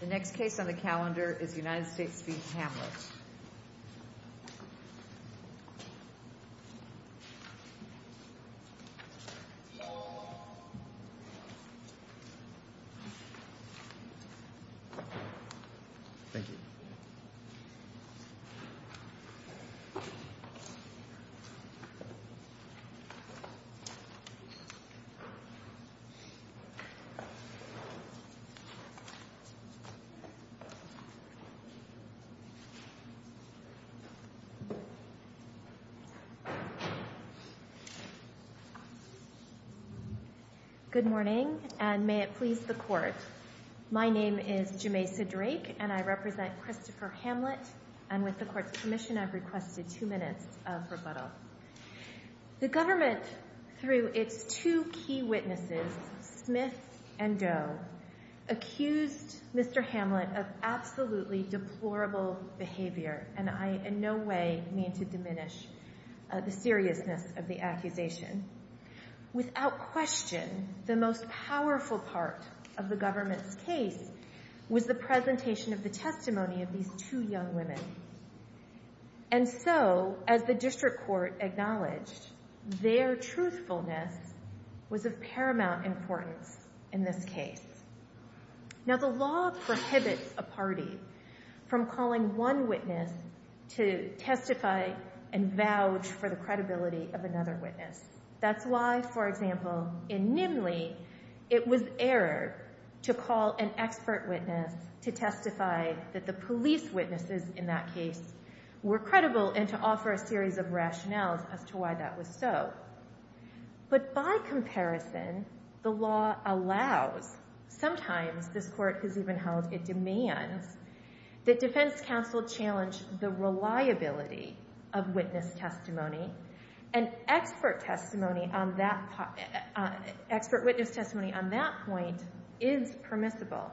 The next case on the calendar is United States v. Hamlett. Good morning, and may it please the Court. My name is Jameisa Drake, and I represent Christopher Hamlett, and with the Court's permission, I've requested two minutes of rebuttal. The Government, through its two key witnesses, Smith and Doe, accused Mr. Hamlett of absolutely deplorable behavior, and I in no way mean to diminish the seriousness of the accusation. Without question, the most powerful part of the Government's case was the presentation of the testimony of these two young women. And so, as the District Court acknowledged, their truthfulness was of paramount importance in this case. Now the law prohibits a party from calling one witness to testify and vouch for the credibility of another witness. That's why, for example, in Nimley, it was error to call an expert witness to testify that the police witnesses in that case were credible and to offer a series of rationales as to why that was so. But by comparison, the law allows, sometimes, this Court has even held it demands, that defense counsel challenge the reliability of witness testimony, and expert witness testimony on that point is permissible.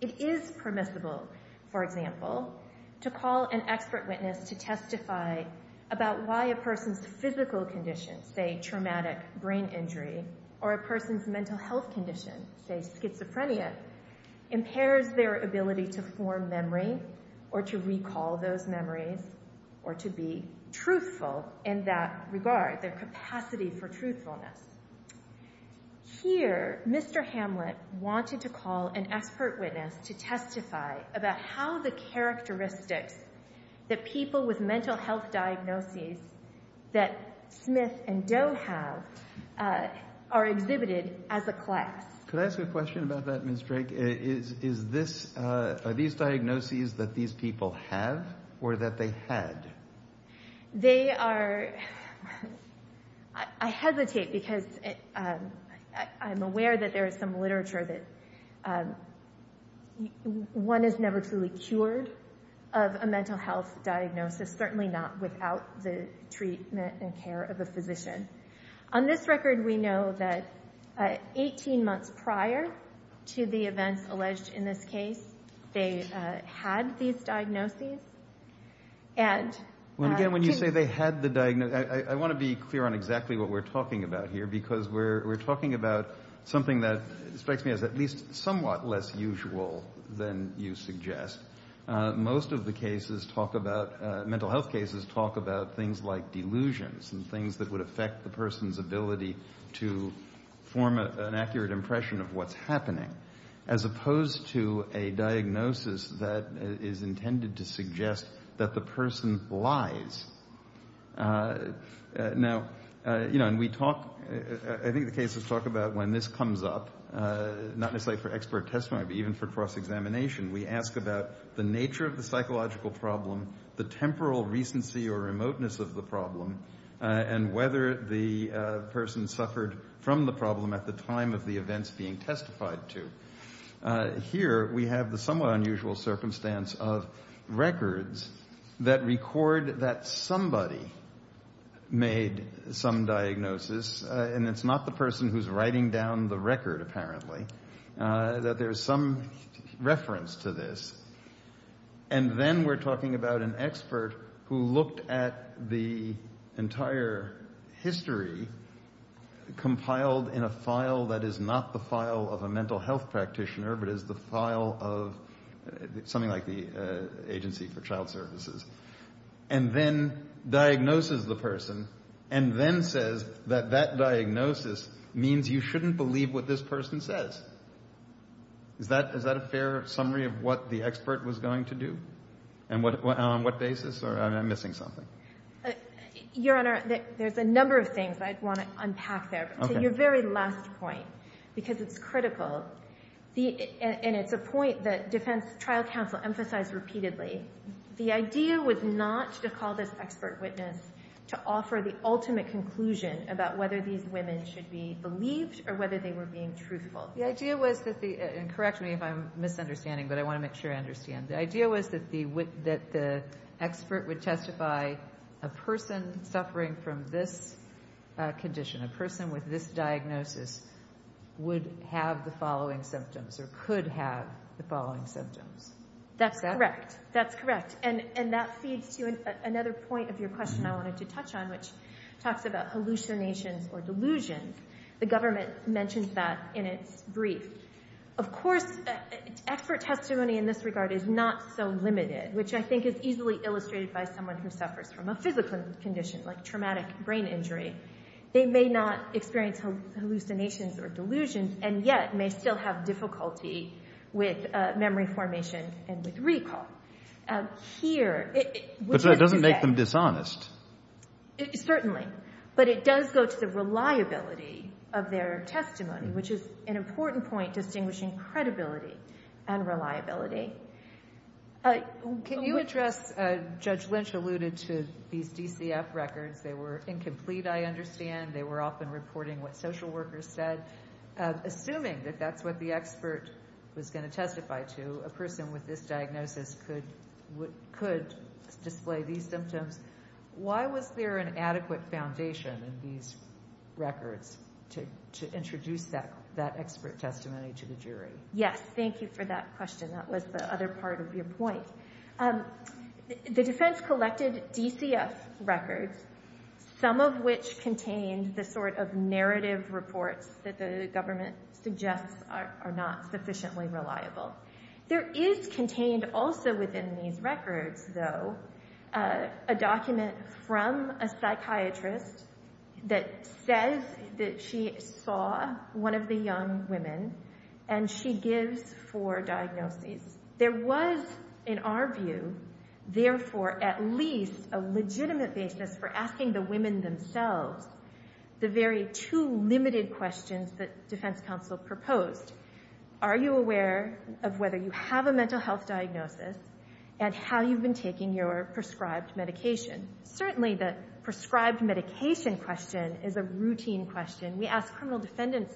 It is permissible, for example, to call an expert witness to testify about why a person's physical condition, say traumatic brain injury, or a person's mental health condition, say schizophrenia, impairs their ability to form memory or to recall those memories or to be truthful in that regard, their capacity for truthfulness. Here, Mr. Hamlet wanted to call an expert witness to testify about how the characteristics that people with mental health diagnoses that Smith and Doe have are exhibited as a class. Could I ask you a question about that, Ms. Drake? Is this, are these diagnoses that these people have or that they had? They are, I hesitate because I'm aware that there is some literature that one is never truly cured of a mental health diagnosis, certainly not without the treatment and care of a physician. On this record, we know that 18 months prior to the events alleged in this case, they had these diagnoses and... Again, when you say they had the diagnosis, I want to be clear on exactly what we're talking about here because we're talking about something that strikes me as at least somewhat less usual than you suggest. Most of the cases talk about, mental health cases talk about things like delusions and things that would affect the person's ability to form an accurate impression of what's happening, as opposed to a diagnosis that is intended to suggest that the person lies. Now, you know, and we talk, I think the cases talk about when this comes up, not necessarily for expert testimony, but even for cross-examination. We ask about the nature of the psychological problem, the temporal recency or remoteness of the problem, and whether the person suffered from the problem at the time of the events being testified to. Here we have the somewhat unusual circumstance of records that record that somebody made some diagnosis, and it's not the person who's writing down the record apparently, that there's some reference to this. And then we're talking about an expert who looked at the entire history compiled in a file of a mental health practitioner, but it's the file of something like the Agency for Child Services, and then diagnoses the person, and then says that that diagnosis means you shouldn't believe what this person says. Is that a fair summary of what the expert was going to do? And on what basis, or am I missing something? Your Honor, there's a number of things I'd want to unpack there. To your very last point, because it's critical, and it's a point that defense trial counsel emphasized repeatedly, the idea was not to call this expert witness to offer the ultimate conclusion about whether these women should be believed or whether they were being truthful. The idea was that the, and correct me if I'm misunderstanding, but I want to make sure I understand, the idea was that the expert would testify a person suffering from this condition, a person with this diagnosis, would have the following symptoms or could have the following symptoms. Is that correct? That's correct. That's correct. And that feeds to another point of your question I wanted to touch on, which talks about hallucinations or delusions. The government mentions that in its brief. Of course, expert testimony in this regard is not so limited, which I think is easily illustrated by someone who suffers from a physical condition, like traumatic brain injury. They may not experience hallucinations or delusions, and yet may still have difficulty with memory formation and with recall. Here, which is to say. But that doesn't make them dishonest. Certainly. But it does go to the reliability of their testimony, which is an important point distinguishing credibility and reliability. Can you address, Judge Lynch alluded to these DCF records. They were incomplete, I understand. They were often reporting what social workers said, assuming that that's what the expert was going to testify to, a person with this diagnosis could display these symptoms. Why was there an adequate foundation in these records to introduce that expert testimony to the jury? Yes. Thank you for that question. That was the other part of your point. The defense collected DCF records, some of which contained the sort of narrative reports that the government suggests are not sufficiently reliable. There is contained also within these records, though, a document from a psychiatrist that says that she saw one of the young women and she gives four diagnoses. There was, in our view, therefore at least a legitimate basis for asking the women themselves the very two limited questions that defense counsel proposed. Are you aware of whether you have a mental health diagnosis and how you've been taking your prescribed medication? Certainly the prescribed medication question is a routine question. We ask criminal defendants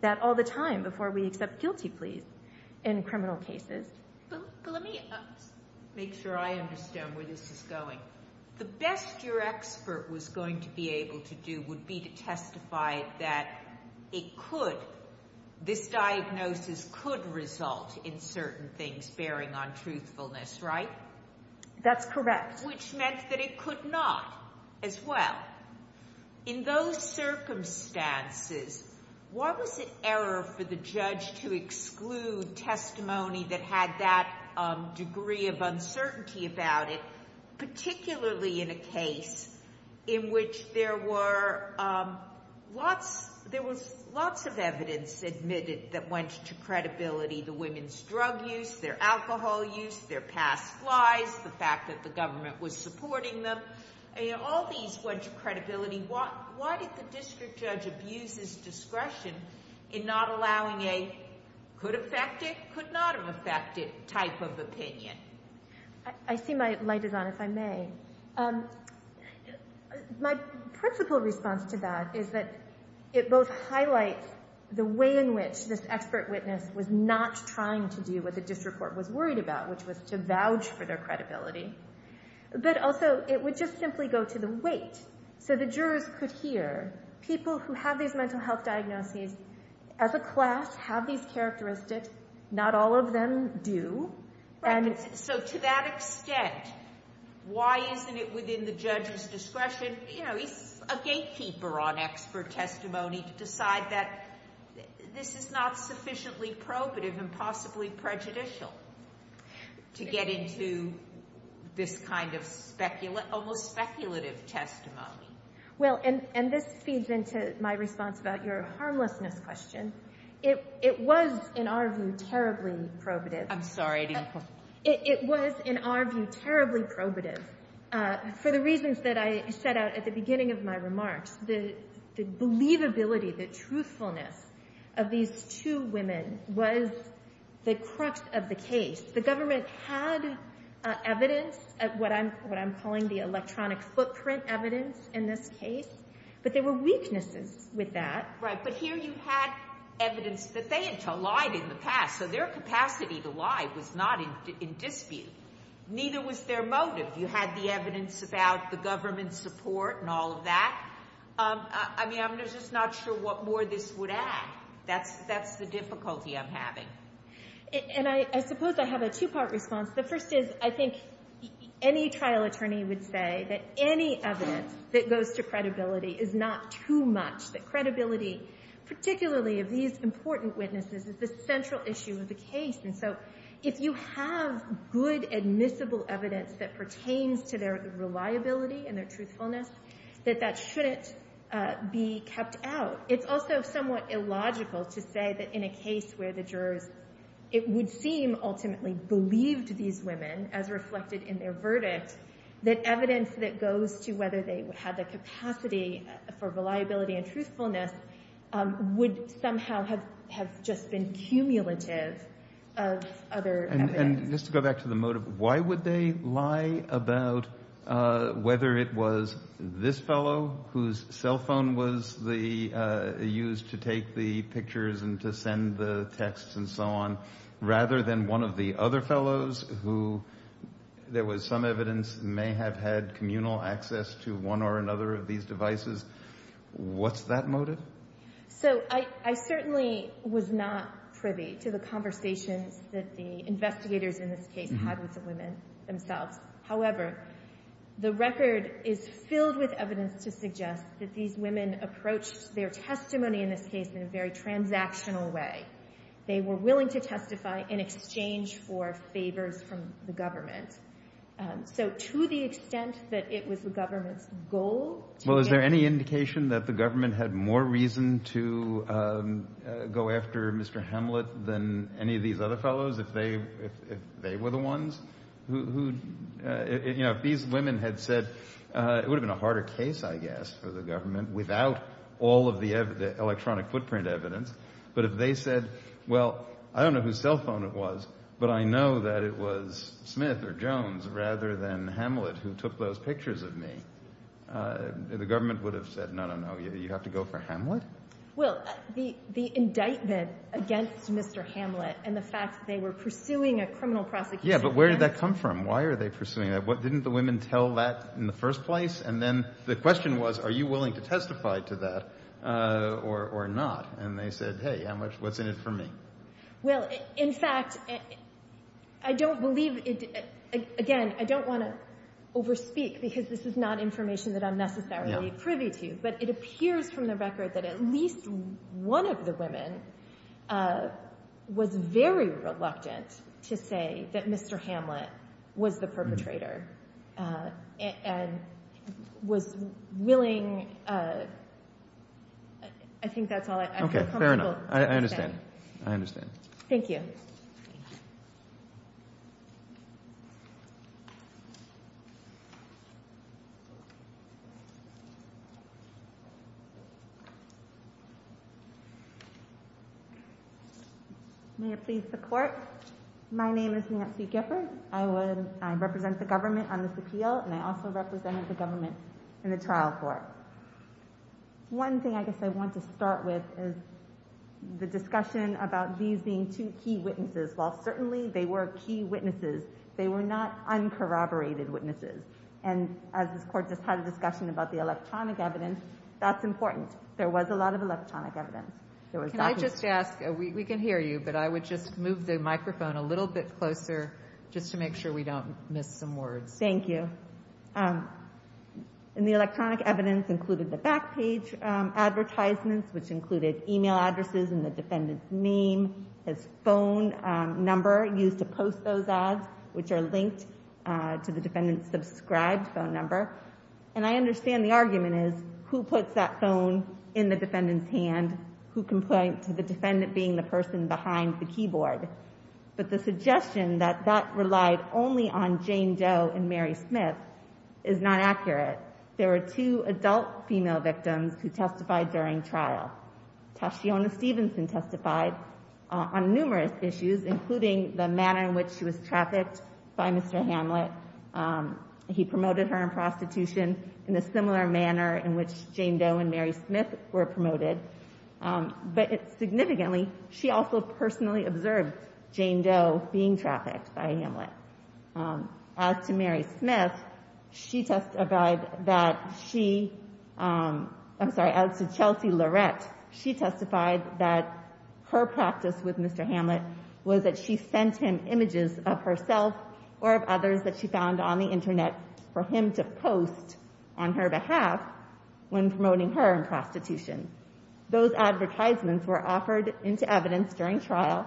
that all the time before we accept guilty pleas in criminal cases. But let me make sure I understand where this is going. The best your expert was going to be able to do would be to testify that it could, this diagnosis could result in certain things bearing on truthfulness, right? That's correct. Which meant that it could not as well. In those circumstances, what was the error for the judge to exclude testimony that had that degree of uncertainty about it, particularly in a case in which there were lots, there was lots of evidence admitted that went to credibility. The women's drug use, their alcohol use, their past lies, the fact that the government was supporting them, all these bunch of credibility, why did the district judge abuse his discretion in not allowing a could affect it, could not have affected type of opinion? I see my light is on, if I may. My principal response to that is that it both highlights the way in which this expert witness was not trying to do what the district court was worried about, which was to vouch for their credibility. But also, it would just simply go to the weight, so the jurors could hear, people who have these mental health diagnoses, as a class, have these characteristics, not all of them do. Right. So to that extent, why isn't it within the judge's discretion, you know, he's a gatekeeper on expert testimony to decide that this is not sufficiently probative and possibly prejudicial to get into this kind of speculative, almost speculative testimony? Well, and this feeds into my response about your harmlessness question. It was, in our view, terribly probative. I'm sorry. It was, in our view, terribly probative for the reasons that I set out at the beginning of my remarks. The believability, the truthfulness of these two women was the crux of the case. The government had evidence, what I'm calling the electronic footprint evidence in this case, but there were weaknesses with that. Right. But here you had evidence that they had lied in the past, so their capacity to lie was not in dispute, neither was their motive. You had the evidence about the government's support and all of that. I mean, I'm just not sure what more this would add. That's the difficulty I'm having. And I suppose I have a two-part response. The first is, I think any trial attorney would say that any evidence that goes to credibility is not too much, that credibility, particularly of these important witnesses, is the central issue of the case. And so if you have good admissible evidence that pertains to their reliability and their truthfulness, that that shouldn't be kept out. It's also somewhat illogical to say that in a case where the jurors, it would seem, ultimately believed these women, as reflected in their verdict, that evidence that goes to whether they had the capacity for reliability and truthfulness would somehow have just been cumulative of other evidence. And just to go back to the motive, why would they lie about whether it was this fellow whose cell phone was used to take the pictures and to send the texts and so on, rather than one of the other fellows who, there was some evidence, may have had communal access to one or another of these devices? What's that motive? So I certainly was not privy to the conversations that the investigators in this case had with the women themselves. However, the record is filled with evidence to suggest that these women approached their testimony in this case in a very transactional way. They were willing to testify in exchange for favors from the government. So to the extent that it was the government's goal to get... reason to go after Mr. Hamlet than any of these other fellows, if they were the ones who... If these women had said, it would have been a harder case, I guess, for the government without all of the electronic footprint evidence. But if they said, well, I don't know whose cell phone it was, but I know that it was Smith or Jones rather than Hamlet who took those pictures of me, the government would have said, no, no, no, you have to go for Hamlet? Well, the indictment against Mr. Hamlet and the fact that they were pursuing a criminal prosecution... Yeah, but where did that come from? Why are they pursuing that? Didn't the women tell that in the first place? And then the question was, are you willing to testify to that or not? And they said, hey, how much, what's in it for me? Well, in fact, I don't believe it, again, I don't want to overspeak because this is not information that I'm necessarily privy to, but it appears from the record that at least one of the women was very reluctant to say that Mr. Hamlet was the perpetrator and was willing... I think that's all I feel comfortable saying. Okay, fair enough. I understand. I understand. May it please the court. My name is Nancy Gifford. I represent the government on this appeal, and I also represented the government in the trial court. One thing I guess I want to start with is the discussion about these being two key witnesses. While certainly they were key witnesses, they were not uncorroborated witnesses. And as this court just had a discussion about the electronic evidence, that's important. There was a lot of electronic evidence. Can I just ask, we can hear you, but I would just move the microphone a little bit closer just to make sure we don't miss some words. Thank you. And the electronic evidence included the back page advertisements, which included email addresses and the defendant's name, his phone number used to post those ads, which are linked to the defendant's subscribed phone number. And I understand the argument is, who puts that phone in the defendant's hand? Who can point to the defendant being the person behind the keyboard? But the suggestion that that relied only on Jane Doe and Mary Smith is not accurate. There were two adult female victims who testified during trial. Tashiona Stevenson testified on numerous issues, including the manner in which she was trafficked by Mr. Hamlet. He promoted her in prostitution in a similar manner in which Jane Doe and Mary Smith were promoted. But significantly, she also personally observed Jane Doe being trafficked by Hamlet. As to Mary Smith, she testified that she, I'm sorry, as to Chelsea Lorette, she testified that her practice with Mr. Hamlet was that she sent him images of herself or of others that she found on the internet for him to post on her behalf when promoting her in prostitution. Those advertisements were offered into evidence during trial,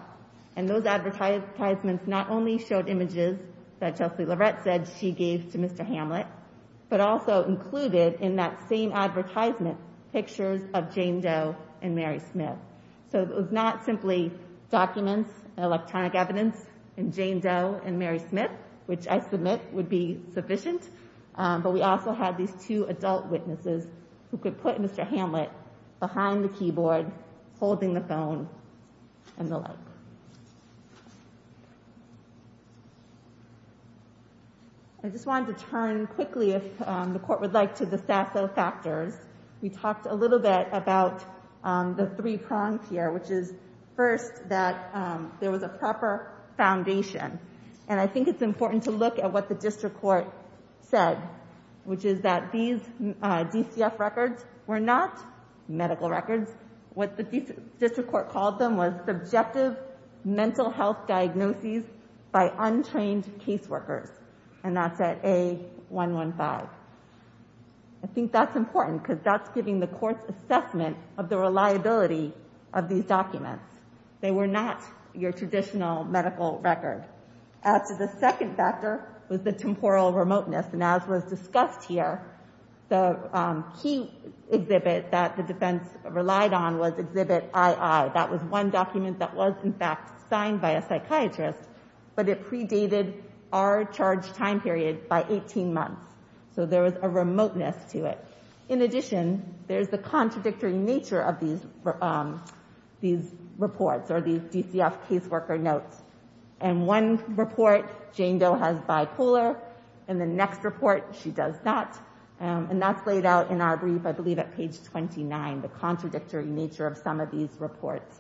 and those advertisements not only showed images that Chelsea Lorette said she gave to Mr. Hamlet, but also included in that same advertisement pictures of Jane Doe and Mary Smith. So it was not simply documents, electronic evidence, and Jane Doe and Mary Smith, which I submit would be sufficient, but we also had these two adult witnesses who could put Mr. Hamlet behind the keyboard, holding the phone, and the like. I just wanted to turn quickly, if the court would like, to the Sasso factors. We talked a little bit about the three prongs here, which is first that there was a proper foundation, and I think it's important to look at what the district court said, which is that these DCF records were not medical records. What the district court called them was subjective mental health diagnoses by untrained caseworkers, and that's at A115. I think that's important, because that's giving the court's assessment of the reliability of these documents. They were not your traditional medical record. As to the second factor was the temporal remoteness, and as was discussed here, the key exhibit that the defense relied on was Exhibit II. That was one document that was, in fact, signed by a psychiatrist, but it predated our charge time period by 18 months, so there was a remoteness to it. In addition, there's the contradictory nature of these reports or these DCF caseworker notes, and one report, Jane Doe has bipolar, and the next report, she does not, and that's highlighted out in our brief, I believe, at page 29, the contradictory nature of some of these reports.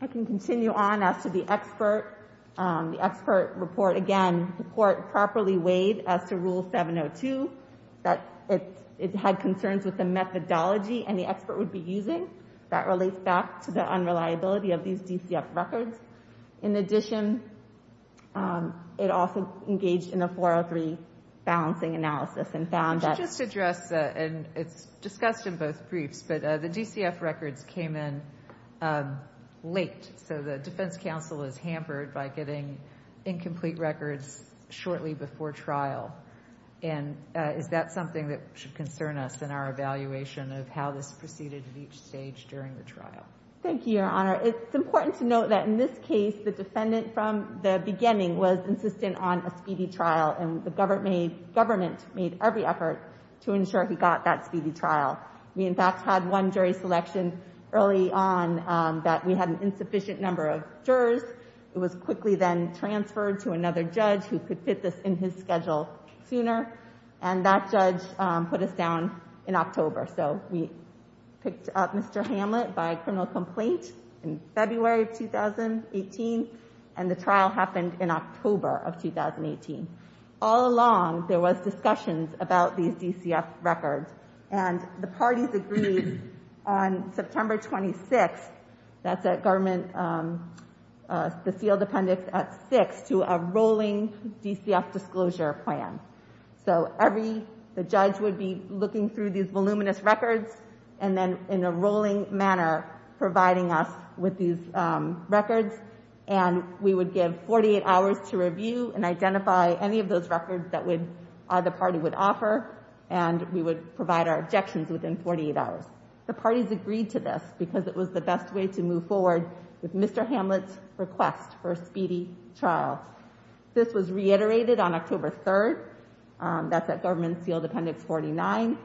I can continue on as to the expert report. Again, the court properly weighed as to Rule 702 that it had concerns with the methodology and the expert would be using. That relates back to the unreliability of these DCF records. In addition, it also engaged in a 403 balancing analysis and found that— Could you just address, and it's discussed in both briefs, but the DCF records came in late, so the defense counsel is hampered by getting incomplete records shortly before trial, and is that something that should concern us in our evaluation of how this proceeded at each stage during the trial? Thank you, Your Honor. It's important to note that in this case, the defendant from the beginning was insistent on a speedy trial, and the government made every effort to ensure he got that speedy trial. We, in fact, had one jury selection early on that we had an insufficient number of jurors. It was quickly then transferred to another judge who could fit this in his schedule sooner, and that judge put us down in October. So we picked up Mr. Hamlet by criminal complaint in February of 2018, and the trial happened in October of 2018. All along, there was discussions about these DCF records, and the parties agreed on September 26th—that's at government—the sealed appendix at 6 to a rolling DCF disclosure plan. So every—the judge would be looking through these voluminous records, and then in a rolling manner providing us with these records, and we would give 48 hours to review and identify any of those records that would—the party would offer, and we would provide our objections within 48 hours. The parties agreed to this because it was the best way to move forward with Mr. Hamlet's request for a speedy trial. This was reiterated on October 3rd—that's at government sealed appendix 49—and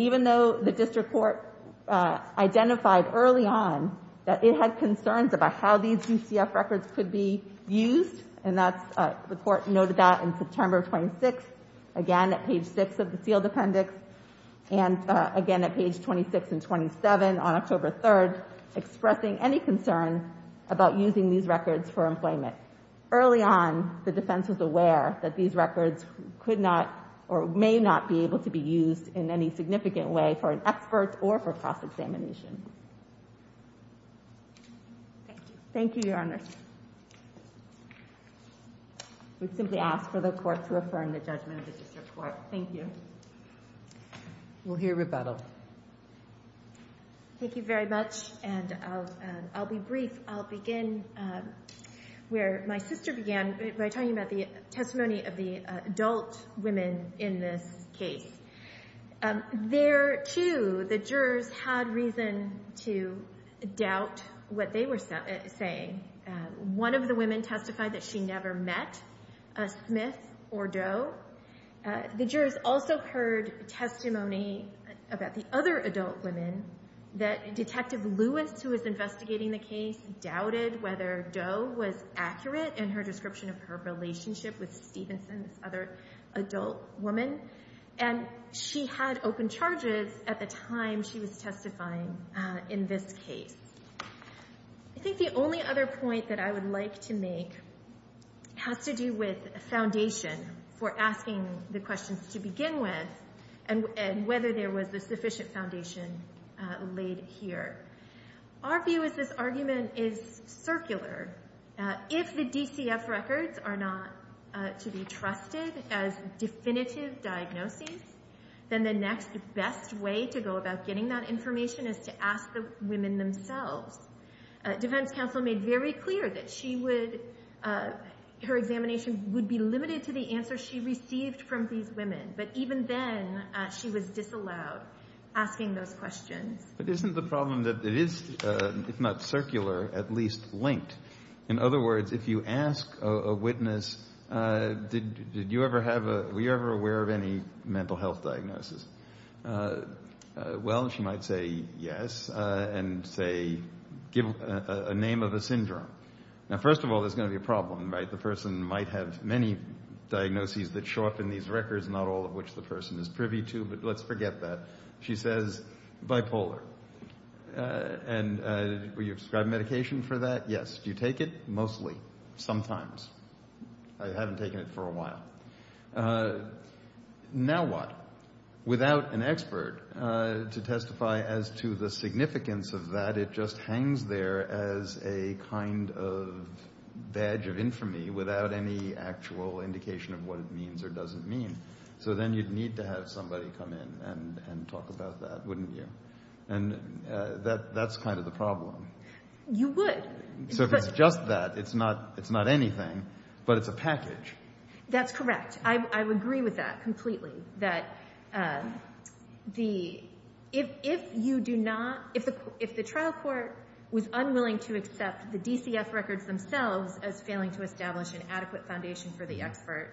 even though the district court identified early on that it had concerns about how these DCF records could be used, and that's—the court noted that in September 26th, again at page 6 of the sealed appendix, and again at page 26 and 27 on October 3rd, expressing any concern about using these records for employment. Early on, the defense was aware that these records could not or may not be able to be used in any significant way for an expert or for cross-examination. Thank you. Thank you, Your Honor. We simply ask for the court to affirm the judgment of the district court. Thank you. We'll hear rebuttal. Thank you very much, and I'll be brief. I'll begin where my sister began by talking about the testimony of the adult women in this case. There, too, the jurors had reason to doubt what they were saying. One of the women testified that she never met a Smith or Doe. The jurors also heard testimony about the other adult women that Detective Lewis, who was investigating the case, doubted whether Doe was accurate in her description of her relationship with Stephenson, this other adult woman. And she had open charges at the time she was testifying in this case. I think the only other point that I would like to make has to do with foundation for asking the questions to begin with and whether there was a sufficient foundation laid here. Our view is this argument is circular. If the DCF records are not to be trusted as definitive diagnoses, then the next best way to go about getting that information is to ask the women themselves. Defense counsel made very clear that she would, her examination would be limited to the answer she received from these women, but even then, she was disallowed asking those questions. But isn't the problem that it is, if not circular, at least linked? In other words, if you ask a witness, did you ever have a, were you ever aware of any mental health diagnosis? Well, she might say, yes, and say, give a name of a syndrome. Now, first of all, there's going to be a problem, right? The person might have many diagnoses that show up in these records, not all of which the person is privy to, but let's forget that. She says, bipolar. And were you prescribed medication for that? Yes. Do you take it? Mostly. Sometimes. I haven't taken it for a while. Now what? Without an expert to testify as to the significance of that, it just hangs there as a kind of badge of infamy without any actual indication of what it means or doesn't mean. So then you'd need to have somebody come in and talk about that, wouldn't you? And that's kind of the problem. You would. So if it's just that, it's not anything, but it's a package. That's correct. I would agree with that completely, that if you do not, if the trial court was unwilling to accept the DCF records themselves as failing to establish an adequate foundation for the expert,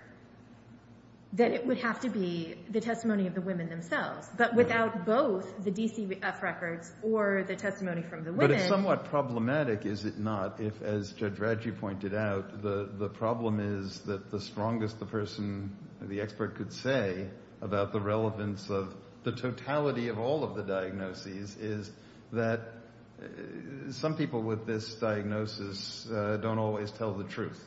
then it would have to be the testimony of the women themselves. But without both the DCF records or the testimony from the women. But it's somewhat problematic, is it not, if, as Judge Radji pointed out, the problem is that the strongest the person, the expert could say about the relevance of the totality of all of the diagnoses is that some people with this diagnosis don't always tell the truth.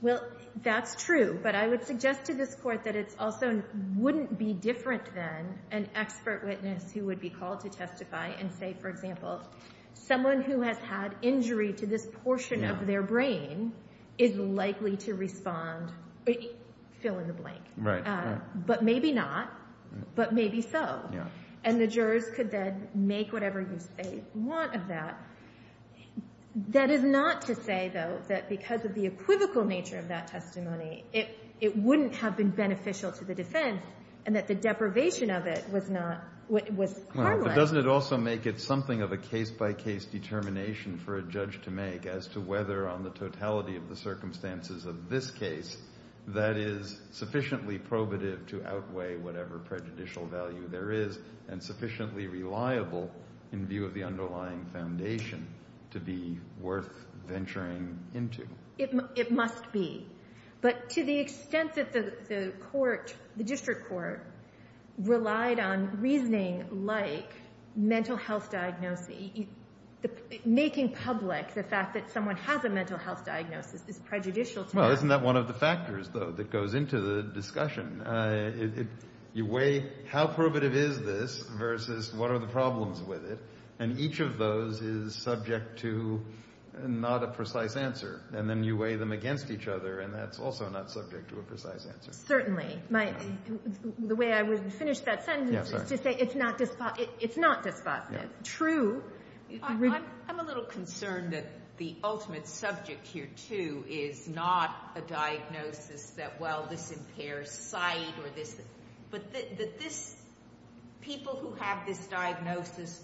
Well, that's true. But I would suggest to this court that it also wouldn't be different than an expert witness who would be called to testify and say, for example, someone who has had injury to this portion of their brain is likely to respond, fill in the blank. But maybe not. But maybe so. And the jurors could then make whatever use they want of that. That is not to say, though, that because of the equivocal nature of that testimony, it wouldn't have been beneficial to the defense and that the deprivation of it was not, was harmless. Well, but doesn't it also make it something of a case-by-case determination for a judge to make as to whether on the totality of the circumstances of this case that is sufficiently probative to outweigh whatever prejudicial value there is and sufficiently reliable in view of the underlying foundation to be worth venturing into? It must be. But to the extent that the court, the district court, relied on reasoning like mental health diagnoses, making public the fact that someone has a mental health diagnosis is prejudicial to them. Well, isn't that one of the factors, though, that goes into the discussion? You weigh how probative is this versus what are the problems with it, and each of those is subject to not a precise answer. And then you weigh them against each other, and that's also not subject to a precise answer. Certainly. The way I would finish that sentence is to say it's not dispositive. It's not dispositive. True. I'm a little concerned that the ultimate subject here, too, is not a diagnosis that, well, this impairs sight or this, but that this, people who have this diagnosis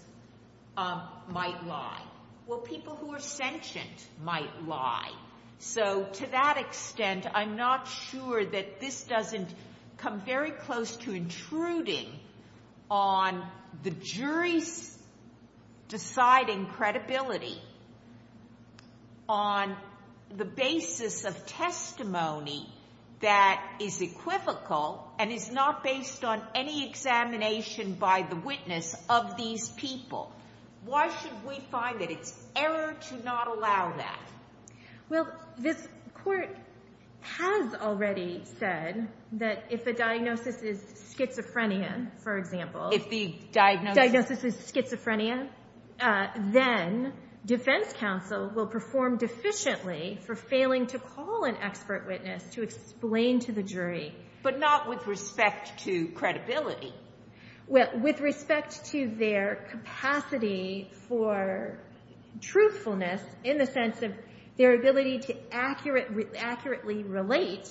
might lie. Well, people who are sentient might lie. So to that extent, I'm not sure that this doesn't come very close to intruding on the that is equivocal and is not based on any examination by the witness of these people. Why should we find that it's error to not allow that? Well, this Court has already said that if the diagnosis is schizophrenia, for example If the diagnosis is schizophrenia, then defense counsel will perform deficiently for failing to call an expert witness to explain to the jury. But not with respect to credibility. With respect to their capacity for truthfulness in the sense of their ability to accurately relate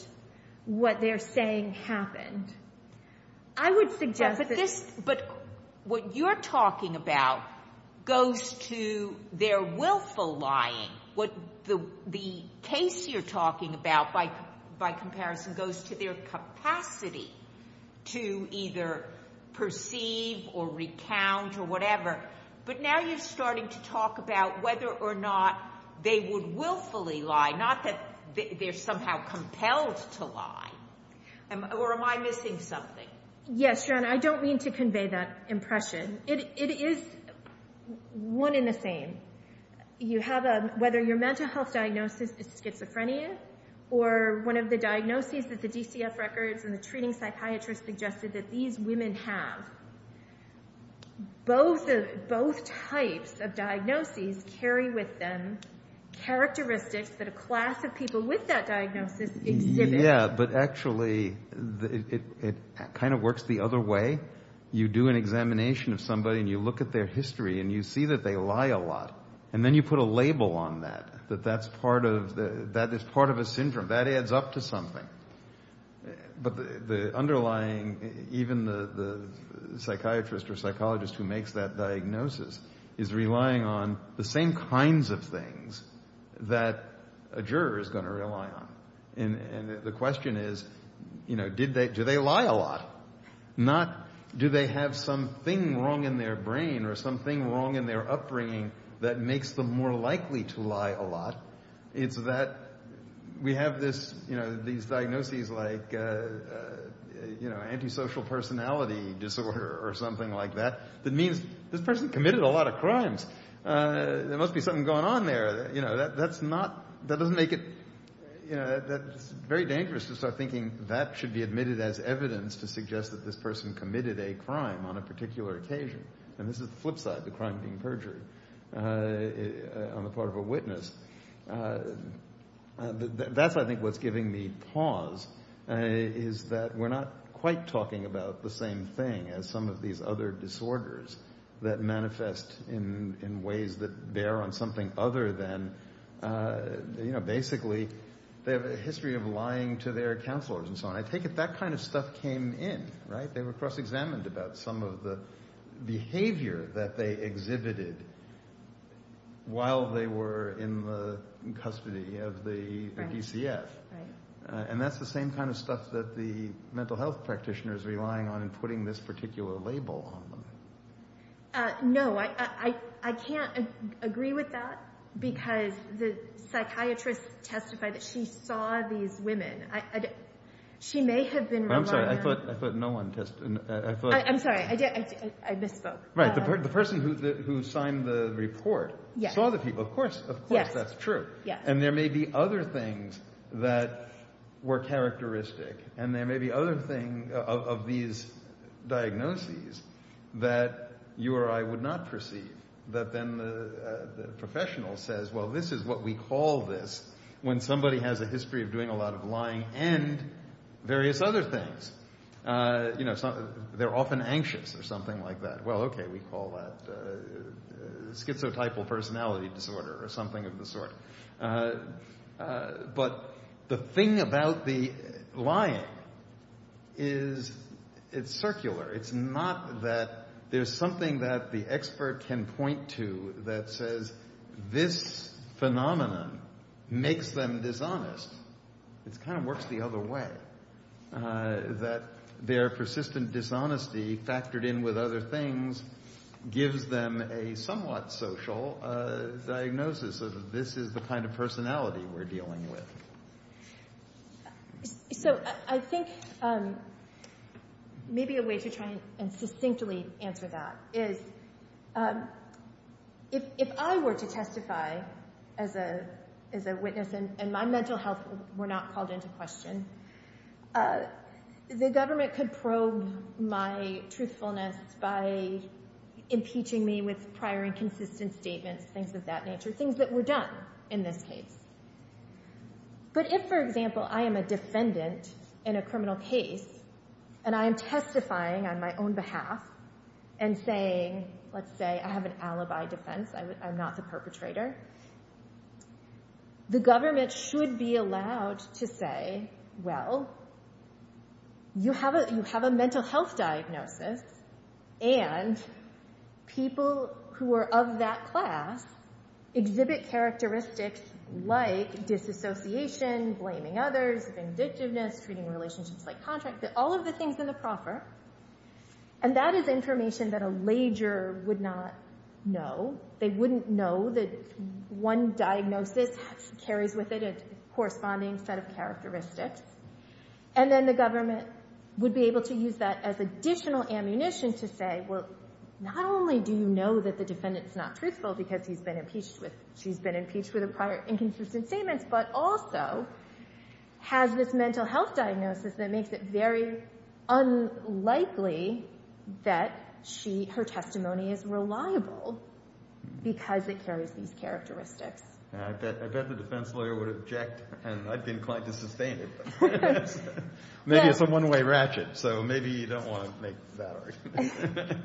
what they're saying happened. I would suggest that this But what you're talking about goes to their willful lying. The case you're talking about, by comparison, goes to their capacity to either perceive or recount or whatever. But now you're starting to talk about whether or not they would willfully lie. Not that they're somehow compelled to lie. Or am I missing something? Yes. Yes, John. I don't mean to convey that impression. It is one and the same. You have a, whether your mental health diagnosis is schizophrenia or one of the diagnoses that the DCF records and the treating psychiatrist suggested that these women have, both types of diagnoses carry with them characteristics that a class of people with that diagnosis exhibit. Yeah, but actually it kind of works the other way. You do an examination of somebody and you look at their history and you see that they lie a lot. And then you put a label on that, that that's part of, that is part of a syndrome. That adds up to something. But the underlying, even the psychiatrist or psychologist who makes that diagnosis is relying on the same kinds of things that a juror is going to rely on. And the question is, you know, did they, do they lie a lot? Not do they have something wrong in their brain or something wrong in their upbringing that makes them more likely to lie a lot. It's that we have this, you know, these diagnoses like, you know, antisocial personality disorder or something like that, that means this person committed a lot of crimes. There must be something going on there. You know, that's not, that doesn't make it, you know, that's very dangerous to start thinking that should be admitted as evidence to suggest that this person committed a crime on a particular occasion. And this is the flip side, the crime being perjured on the part of a witness. That's I think what's giving me pause is that we're not quite talking about the same thing as some of these other disorders that manifest in ways that bear on something other than, you know, basically they have a history of lying to their counselors and so on. I take it that kind of stuff came in, right? They were cross-examined about some of the behavior that they exhibited while they were in the custody of the DCF. And that's the same kind of stuff that the mental health practitioners are relying on when putting this particular label on them. No, I can't agree with that because the psychiatrist testified that she saw these women. She may have been relying on them. I'm sorry, I thought no one testified. I'm sorry, I misspoke. Right, the person who signed the report saw the people. Of course, of course that's true. And there may be other things that were characteristic. And there may be other things of these diagnoses that you or I would not perceive. That then the professional says, well, this is what we call this when somebody has a history of doing a lot of lying and various other things, you know, they're often anxious or something like that. Well, okay, we call that schizotypal personality disorder or something of the sort. But the thing about the lying is it's circular. It's not that there's something that the expert can point to that says this phenomenon makes them dishonest. It kind of works the other way. That their persistent dishonesty factored in with other things gives them a somewhat social diagnosis of this is the kind of personality we're dealing with. So I think maybe a way to try and succinctly answer that is if I were to testify as a witness and my mental health were not called into question, the government could probe my truthfulness by impeaching me with prior inconsistent statements, things of that nature, things that were done in this case. But if, for example, I am a defendant in a criminal case and I am testifying on my own behalf and saying, let's say I have an alibi defense, I'm not the perpetrator, the government should be allowed to say, well, you have a mental health diagnosis and people who are of that class exhibit characteristics like disassociation, blaming others, vindictiveness, treating relationships like contracts, all of the things in the proffer. And that is information that a lager would not know. They wouldn't know that one diagnosis carries with it a corresponding set of characteristics. And then the government would be able to use that as additional ammunition to say, well, not only do you know that the defendant's not truthful because she's been impeached with prior inconsistent statements, but also has this mental health diagnosis that makes it very unlikely that her testimony is reliable because it carries these characteristics. I bet the defense lawyer would object, and I'd be inclined to sustain it. Maybe it's a one-way ratchet, so maybe you don't want to make that argument.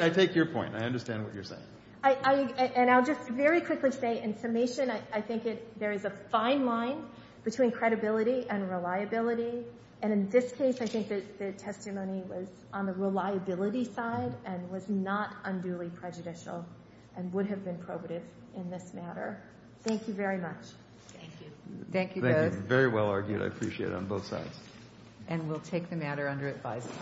I take your point. I understand what you're saying. And I'll just very quickly say, in summation, I think there is a fine line between credibility and reliability. And in this case, I think that the testimony was on the reliability side and was not unduly prejudicial and would have been probative in this matter. Thank you very much. Thank you. Thank you, both. Thank you. Very well argued. I appreciate it on both sides. And we'll take the matter under advisory.